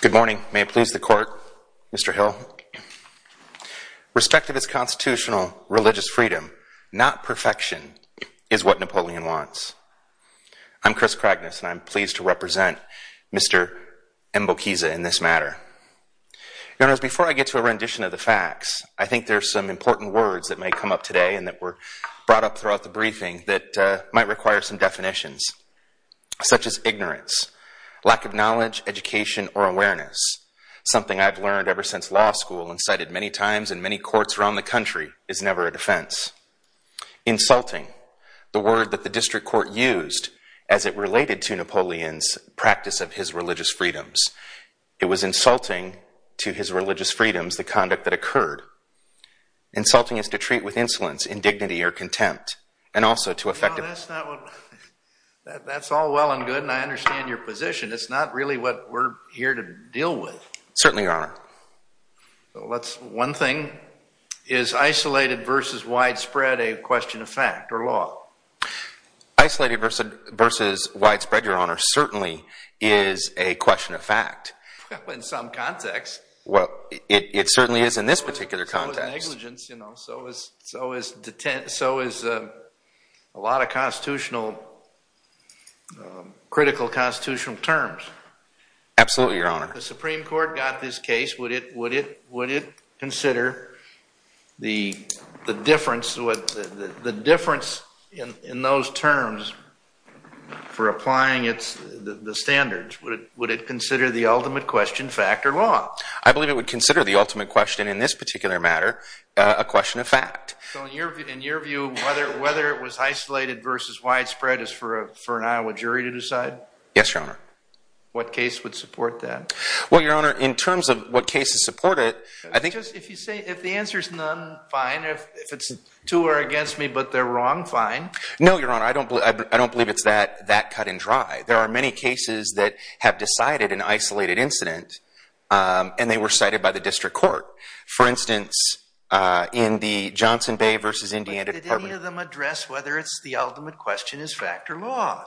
Good morning. May it please the court, Mr. Hill. Respect of its constitutional religious freedom, not perfection, is what Napoleon wants. I'm Chris Kragness, and I'm pleased to represent Mr. Mbonyunkiza in this matter. Your Honors, before I get to a rendition of the facts, I think there are some important words that may come up today and that were brought up throughout the briefing that might require some definitions, such as ignorance, lack of knowledge, education, or awareness, something I've learned ever since law school and cited many times in many courts around the country is never a defense. Insulting, the word that the district court used as it related to Napoleon's practice of his religious freedoms. It was insulting to his religious freedoms, the conduct that occurred. Insulting is to treat with insolence, indignity, or contempt, and also to affect others. That's all well and good, and I understand your position. It's not really what we're here to deal with. Certainly, Your Honor. One thing, is isolated versus widespread a question of fact or law? Isolated versus widespread, Your Honor, certainly is a question of fact. Well, in some context. Well, it certainly is in this particular context. So is negligence, so is a lot of critical constitutional terms. Absolutely, Your Honor. If the Supreme Court got this case, would it consider the difference in those terms for applying the standards? Would it consider the ultimate question fact or law? I believe it would consider the ultimate question in this particular matter a question of fact. So in your view, whether it was isolated versus widespread is for an Iowa jury to decide? Yes, Your Honor. What case would support that? Well, Your Honor, in terms of what cases support it, I think- Just if you say, if the answer's none, fine. If it's to or against me, but they're wrong, fine. No, Your Honor. I don't believe it's that cut and dry. There are many cases that have decided an isolated incident, and they were cited by the district court. For instance, in the Johnson Bay versus Indiana- But did any of them address whether it's the ultimate question is fact or law?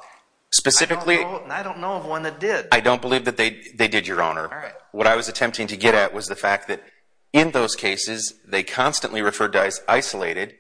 Specifically- I don't know of one that did. I don't believe that they did, Your Honor. All right. What I was attempting to get at was the fact that in those cases, they constantly referred to as isolated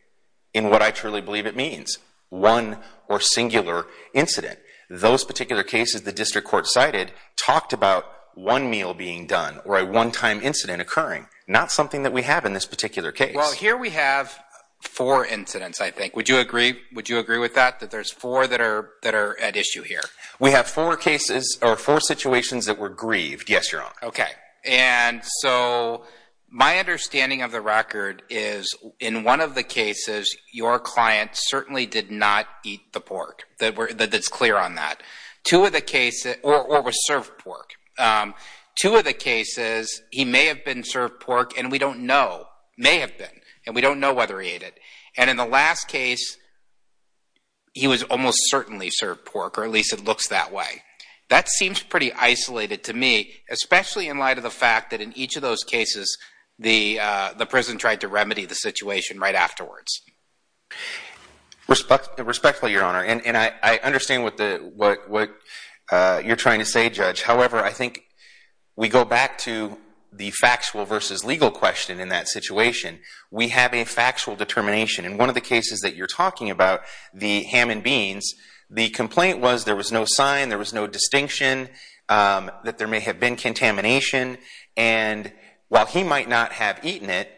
in what I truly believe it means, one or singular incident. Those particular cases the district court cited talked about one meal being done or a one-time incident occurring, not something that we have in this particular case. Well, here we have four incidents, I think. Would you agree with that, that there's four that are at issue here? We have four situations that were grieved. Yes, Your Honor. Okay. And so my understanding of the record is in one of the cases, your client certainly did not eat the pork. That's clear on that. Or was served pork. Two of the cases, he may have been served pork, and we don't know. May have been. And we don't know whether he ate it. And in the last case, he was almost certainly served pork, or at least it looks that way. That seems pretty isolated to me, especially in light of the fact that in each of those cases, the prison tried to remedy the situation right afterwards. Respectfully, Your Honor, and I understand what you're trying to say, Judge. However, I think we go back to the factual versus legal question in that situation. We have a factual determination. In one of the cases that you're talking about, the ham and beans, the complaint was there was no sign, there was no distinction that there may have been contamination. And while he might not have eaten it,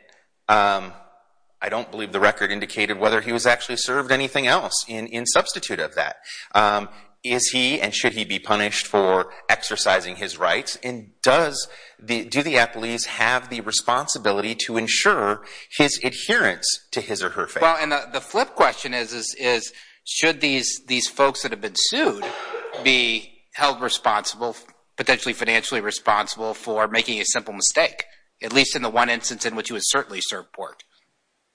I don't believe the record indicated whether he was actually served anything else in substitute of that. Is he, and should he be punished for exercising his rights? And do the appellees have the responsibility to ensure his adherence to his or her faith? Well, and the flip question is, should these folks that have been sued be held responsible, potentially financially responsible, for making a simple mistake? At least in the one instance in which he was certainly served pork.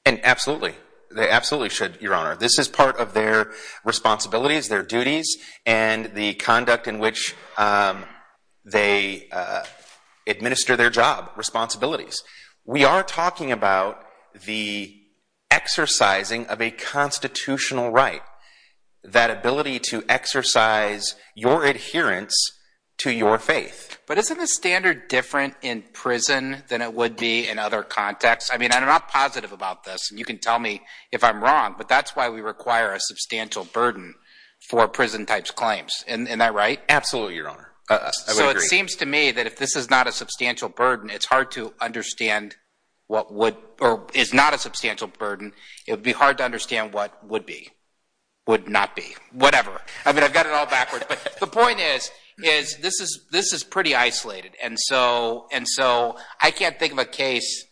Absolutely. They absolutely should, Your Honor. This is part of their responsibilities, their duties, and the conduct in which they administer their job, responsibilities. We are talking about the exercising of a constitutional right, that ability to exercise your adherence to your faith. But isn't the standard different in prison than it would be in other contexts? I mean, I'm not positive about this, and you can tell me if I'm wrong, but that's why we require a substantial burden for prison-type claims. Isn't that right? Absolutely, Your Honor. So it seems to me that if this is not a substantial burden, it's hard to understand what would, or is not a substantial burden, it would be hard to understand what would be, would not be, whatever. I mean, I've got it all backwards, but the point is, is this is pretty isolated. And so I can't think of a case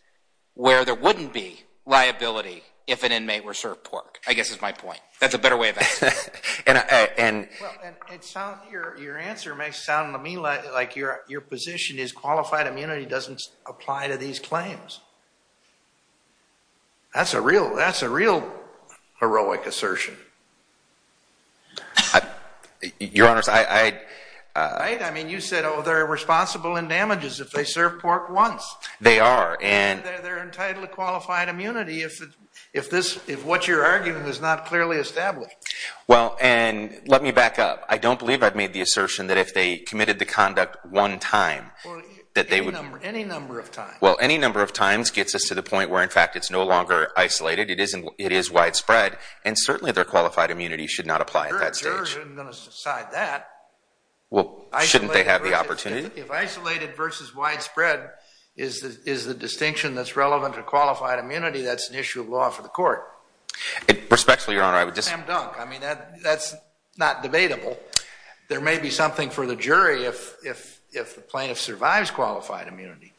where there wouldn't be liability if an inmate were served pork, I guess is my point. That's a better way of answering it. Well, it sounds, your answer may sound to me like your position is qualified immunity doesn't apply to these claims. That's a real, that's a real heroic assertion. Your Honor, I. Right? I mean, you said, oh, they're responsible in damages if they serve pork once. They are, and. And they're entitled to qualified immunity if this, if what you're arguing is not clearly established. Well, and let me back up. I don't believe I've made the assertion that if they committed the conduct one time that they would. Any number of times. Well, any number of times gets us to the point where, in fact, it's no longer isolated. It isn't. It is widespread, and certainly their qualified immunity should not apply at that stage. I'm going to decide that. Well, shouldn't they have the opportunity? If isolated versus widespread is the distinction that's relevant to qualified immunity, that's an issue of law for the court. Respectfully, Your Honor, I would just. I mean, that's not debatable. There may be something for the jury if the plaintiff survives qualified immunity.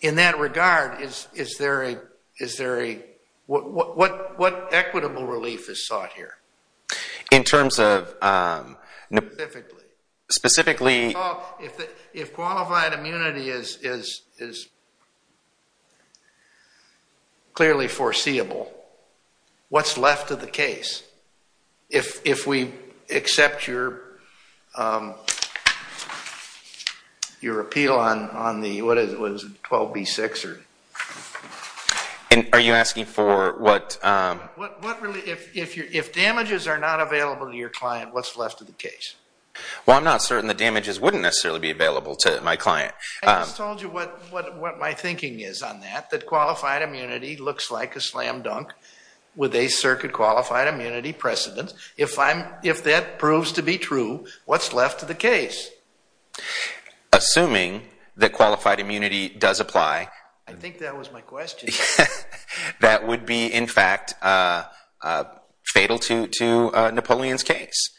In that regard, is there a, what equitable relief is sought here? In terms of. Specifically. Specifically. If qualified immunity is clearly foreseeable, what's left of the case? If we accept your appeal on the, what is it, 12B6? Are you asking for what? If damages are not available to your client, what's left of the case? Well, I'm not certain the damages wouldn't necessarily be available to my client. I just told you what my thinking is on that. I accept that qualified immunity looks like a slam dunk with a circuit qualified immunity precedent. If that proves to be true, what's left of the case? Assuming that qualified immunity does apply. I think that was my question. That would be, in fact, fatal to Napoleon's case.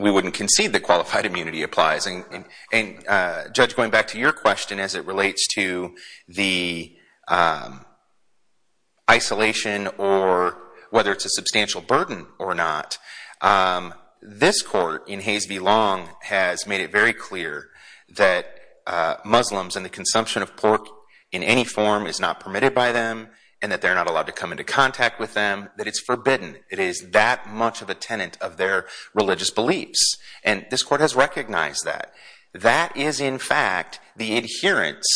We wouldn't concede that qualified immunity applies. Judge, going back to your question as it relates to the isolation or whether it's a substantial burden or not. This court in Hayes v. Long has made it very clear that Muslims and the consumption of pork in any form is not permitted by them. And that they're not allowed to come into contact with them. That it's forbidden. It is that much of a tenant of their religious beliefs. And this court has recognized that. That is, in fact, the adherence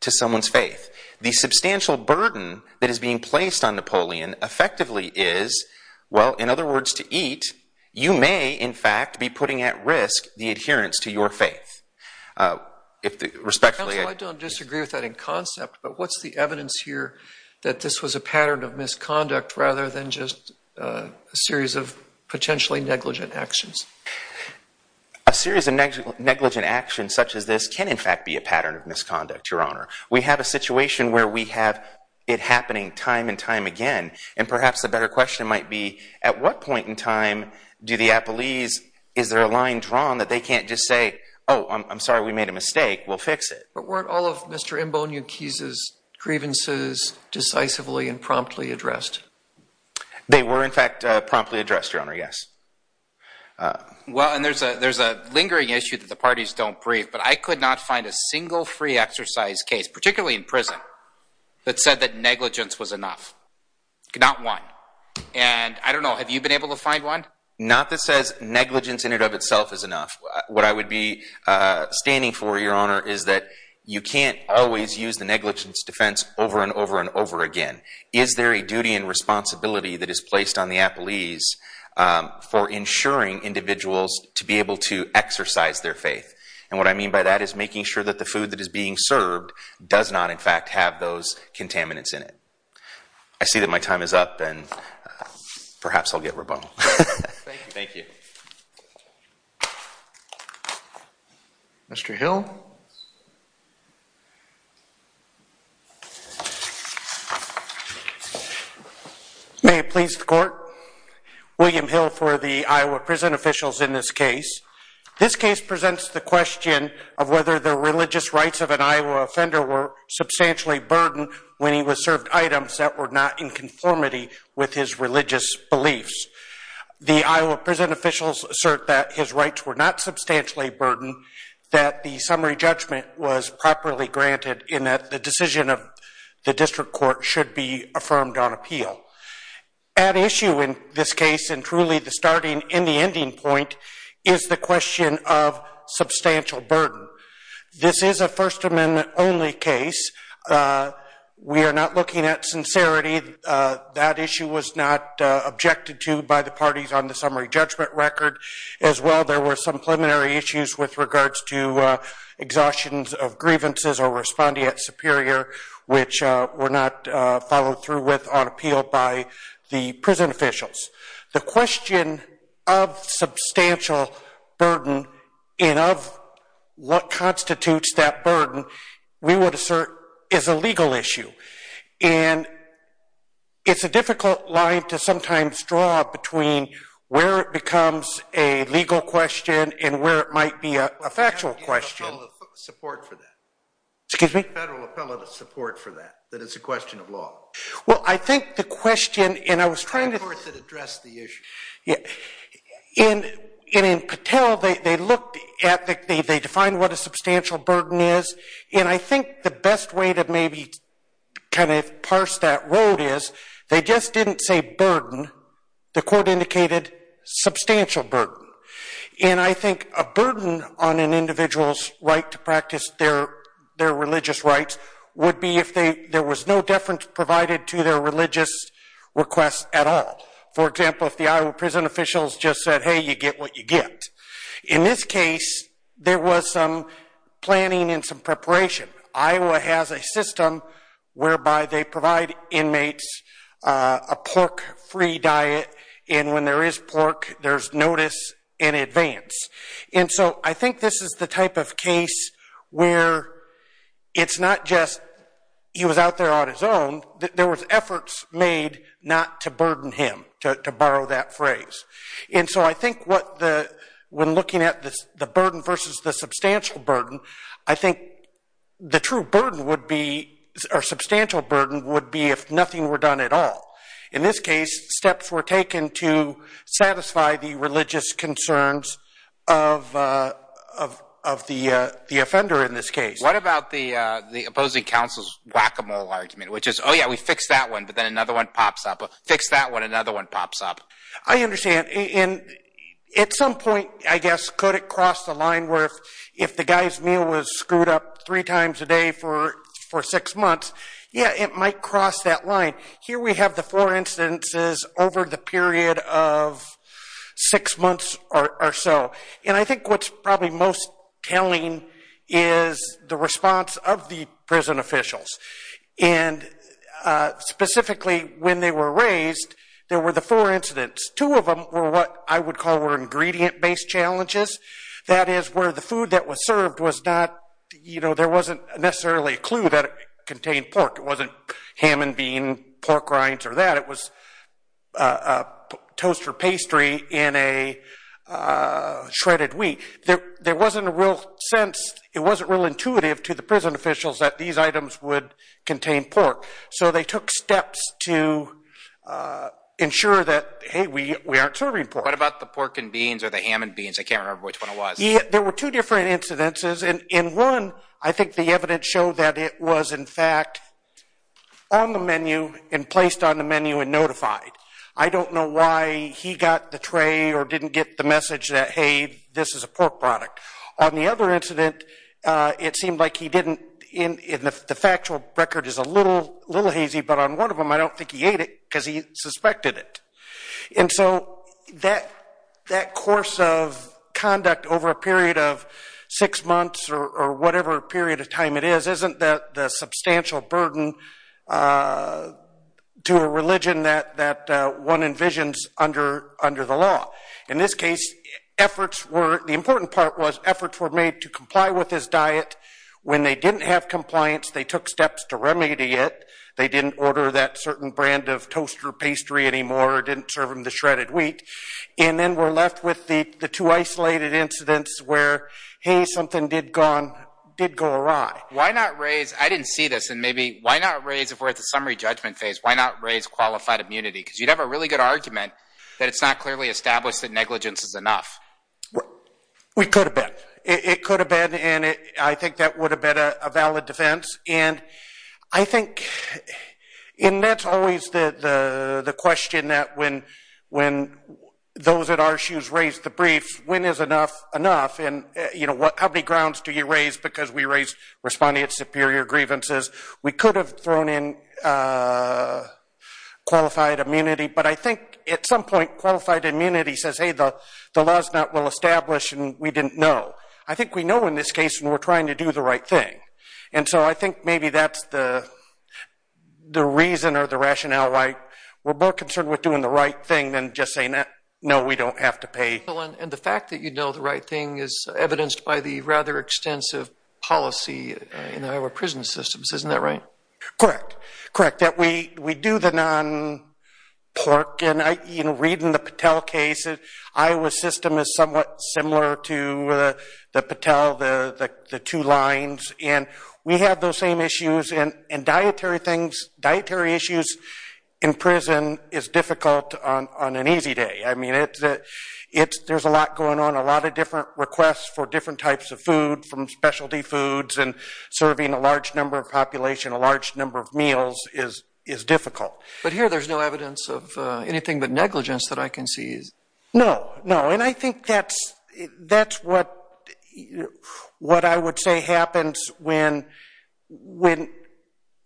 to someone's faith. The substantial burden that is being placed on Napoleon effectively is, well, in other words, to eat. You may, in fact, be putting at risk the adherence to your faith. If the respectfully… Counsel, I don't disagree with that in concept. But what's the evidence here that this was a pattern of misconduct rather than just a series of potentially negligent actions? A series of negligent actions such as this can, in fact, be a pattern of misconduct, Your Honor. We have a situation where we have it happening time and time again. And perhaps the better question might be, at what point in time do the appellees… Is there a line drawn that they can't just say, oh, I'm sorry, we made a mistake. We'll fix it. But weren't all of Mr. Mboniuk's grievances decisively and promptly addressed? They were, in fact, promptly addressed, Your Honor, yes. Well, and there's a lingering issue that the parties don't brief. But I could not find a single free exercise case, particularly in prison, that said that negligence was enough. Not one. And, I don't know, have you been able to find one? Not that says negligence in and of itself is enough. What I would be standing for, Your Honor, is that you can't always use the negligence defense over and over and over again. Is there a duty and responsibility that is placed on the appellees for ensuring individuals to be able to exercise their faith? And what I mean by that is making sure that the food that is being served does not, in fact, have those contaminants in it. I see that my time is up, and perhaps I'll get rebuttal. Thank you. Thank you. Mr. Hill? May it please the Court? William Hill for the Iowa prison officials in this case. This case presents the question of whether the religious rights of an Iowa offender were substantially burdened when he was served items that were not in conformity with his religious beliefs. The Iowa prison officials assert that his rights were not substantially burdened, that the summary judgment was properly granted, and that the decision of the district court should be affirmed on appeal. At issue in this case, and truly the starting and the ending point, is the question of substantial burden. This is a First Amendment-only case. We are not looking at sincerity. That issue was not objected to by the parties on the summary judgment record. As well, there were some preliminary issues with regards to exhaustion of grievances or responding at superior, which were not followed through with on appeal by the prison officials. The question of substantial burden and of what constitutes that burden, we would assert, is a legal issue. And it's a difficult line to sometimes draw between where it becomes a legal question and where it might be a factual question. Excuse me? Federal appellate support for that, that it's a question of law. Well, I think the question, and I was trying to... Support that addressed the issue. In Patel, they defined what a substantial burden is, and I think the best way to maybe kind of parse that road is, they just didn't say burden. The court indicated substantial burden. And I think a burden on an individual's right to practice their religious rights would be if there was no deference provided to their religious requests at all. For example, if the Iowa prison officials just said, hey, you get what you get. In this case, there was some planning and some preparation. Iowa has a system whereby they provide inmates a pork-free diet, and when there is pork, there's notice in advance. And so I think this is the type of case where it's not just he was out there on his own. There was efforts made not to burden him, to borrow that phrase. And so I think when looking at the burden versus the substantial burden, I think the true burden would be, or substantial burden would be if nothing were done at all. In this case, steps were taken to satisfy the religious concerns of the offender in this case. What about the opposing counsel's whack-a-mole argument, which is, oh, yeah, we fix that one, but then another one pops up. Fix that one, another one pops up. I understand. And at some point, I guess, could it cross the line where if the guy's meal was screwed up three times a day for six months, yeah, it might cross that line. Here we have the four instances over the period of six months or so. And I think what's probably most telling is the response of the prison officials. And specifically, when they were raised, there were the four incidents. Two of them were what I would call were ingredient-based challenges. That is, where the food that was served was not, you know, there wasn't necessarily a clue that it contained pork. It wasn't ham and bean, pork rinds, or that. It was a toaster pastry in a shredded wheat. There wasn't a real sense. It wasn't real intuitive to the prison officials that these items would contain pork. So they took steps to ensure that, hey, we aren't serving pork. What about the pork and beans or the ham and beans? I can't remember which one it was. There were two different incidences. And in one, I think the evidence showed that it was, in fact, on the menu and placed on the menu and notified. I don't know why he got the tray or didn't get the message that, hey, this is a pork product. On the other incident, it seemed like he didn't, and the factual record is a little hazy, but on one of them, I don't think he ate it because he suspected it. And so that course of conduct over a period of six months or whatever period of time it is, isn't the substantial burden to a religion that one envisions under the law. In this case, the important part was efforts were made to comply with his diet. When they didn't have compliance, they took steps to remedy it. They didn't order that certain brand of toaster pastry anymore or didn't serve him the shredded wheat. And then we're left with the two isolated incidents where, hey, something did go awry. Why not raise—I didn't see this, and maybe—why not raise, if we're at the summary judgment phase, why not raise qualified immunity? Because you'd have a really good argument that it's not clearly established that negligence is enough. We could have been. It could have been, and I think that would have been a valid defense. And I think—and that's always the question that when those at our shoes raise the brief, when is enough enough? And, you know, how many grounds do you raise because we raised responding to superior grievances? We could have thrown in qualified immunity. But I think at some point qualified immunity says, hey, the law's not well established and we didn't know. I think we know in this case and we're trying to do the right thing. And so I think maybe that's the reason or the rationale why we're more concerned with doing the right thing than just saying, no, we don't have to pay. And the fact that you know the right thing is evidenced by the rather extensive policy in Iowa prison systems. Isn't that right? Correct. Correct. We do the non-PORC. And, you know, reading the Patel case, Iowa's system is somewhat similar to the Patel, the two lines. And we have those same issues. And dietary things, dietary issues in prison is difficult on an easy day. I mean, there's a lot going on. A lot of different requests for different types of food from specialty foods and serving a large number of population a large number of meals is difficult. But here there's no evidence of anything but negligence that I can see. No, no. And I think that's what I would say happens when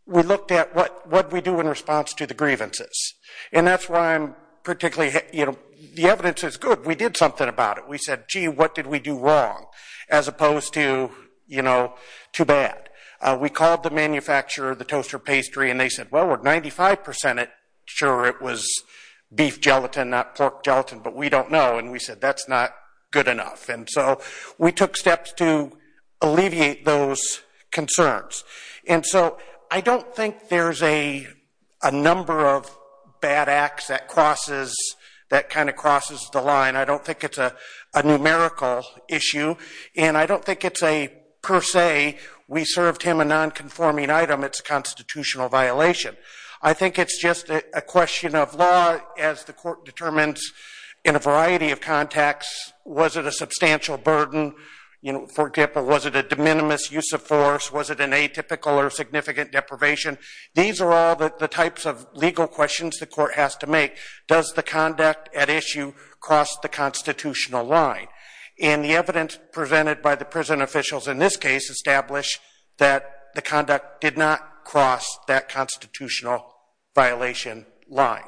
we looked at what we do in response to the grievances. And that's why I'm particularly, you know, the evidence is good. We did something about it. We said, gee, what did we do wrong as opposed to, you know, too bad. We called the manufacturer, the toaster pastry, and they said, well, we're 95% sure it was beef gelatin, not pork gelatin, but we don't know. And we said that's not good enough. And so we took steps to alleviate those concerns. And so I don't think there's a number of bad acts that kind of crosses the line. I don't think it's a numerical issue. And I don't think it's a per se, we served him a nonconforming item, it's a constitutional violation. I think it's just a question of law as the court determines in a variety of contexts, was it a substantial burden, you know, for example, was it a de minimis use of force, was it an atypical or significant deprivation. These are all the types of legal questions the court has to make. Does the conduct at issue cross the constitutional line? And the evidence presented by the prison officials in this case established that the conduct did not cross that constitutional violation line.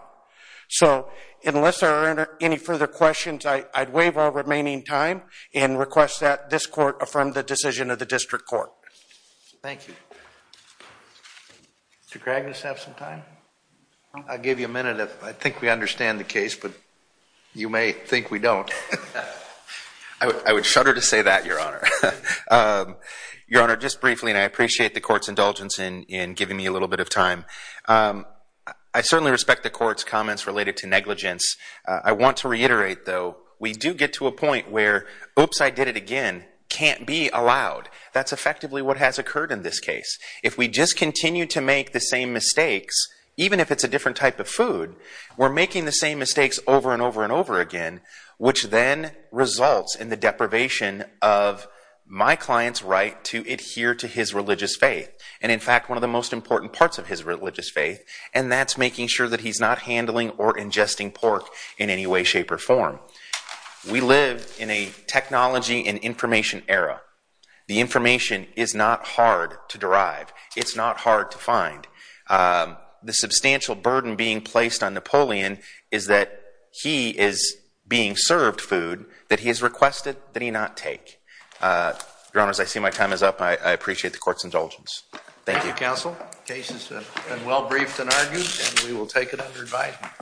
So unless there are any further questions, I'd waive our remaining time and request that this court affirm the decision of the district court. Thank you. Did Mr. Cragness have some time? I'll give you a minute. I think we understand the case, but you may think we don't. I would shudder to say that, Your Honor. Your Honor, just briefly, and I appreciate the court's indulgence in giving me a little bit of time. I certainly respect the court's comments related to negligence. I want to reiterate, though, we do get to a point where, oops, I did it again, can't be allowed. That's effectively what has occurred in this case. If we just continue to make the same mistakes, even if it's a different type of food, we're making the same mistakes over and over and over again, which then results in the deprivation of my client's right to adhere to his religious faith and, in fact, one of the most important parts of his religious faith, and that's making sure that he's not handling or ingesting pork in any way, shape, or form. We live in a technology and information era. The information is not hard to derive. It's not hard to find. The substantial burden being placed on Napoleon is that he is being served food that he has requested that he not take. Your Honors, I see my time is up. I appreciate the court's indulgence. Thank you. Thank you, Counsel. The case has been well briefed and argued, and we will take it under advisement.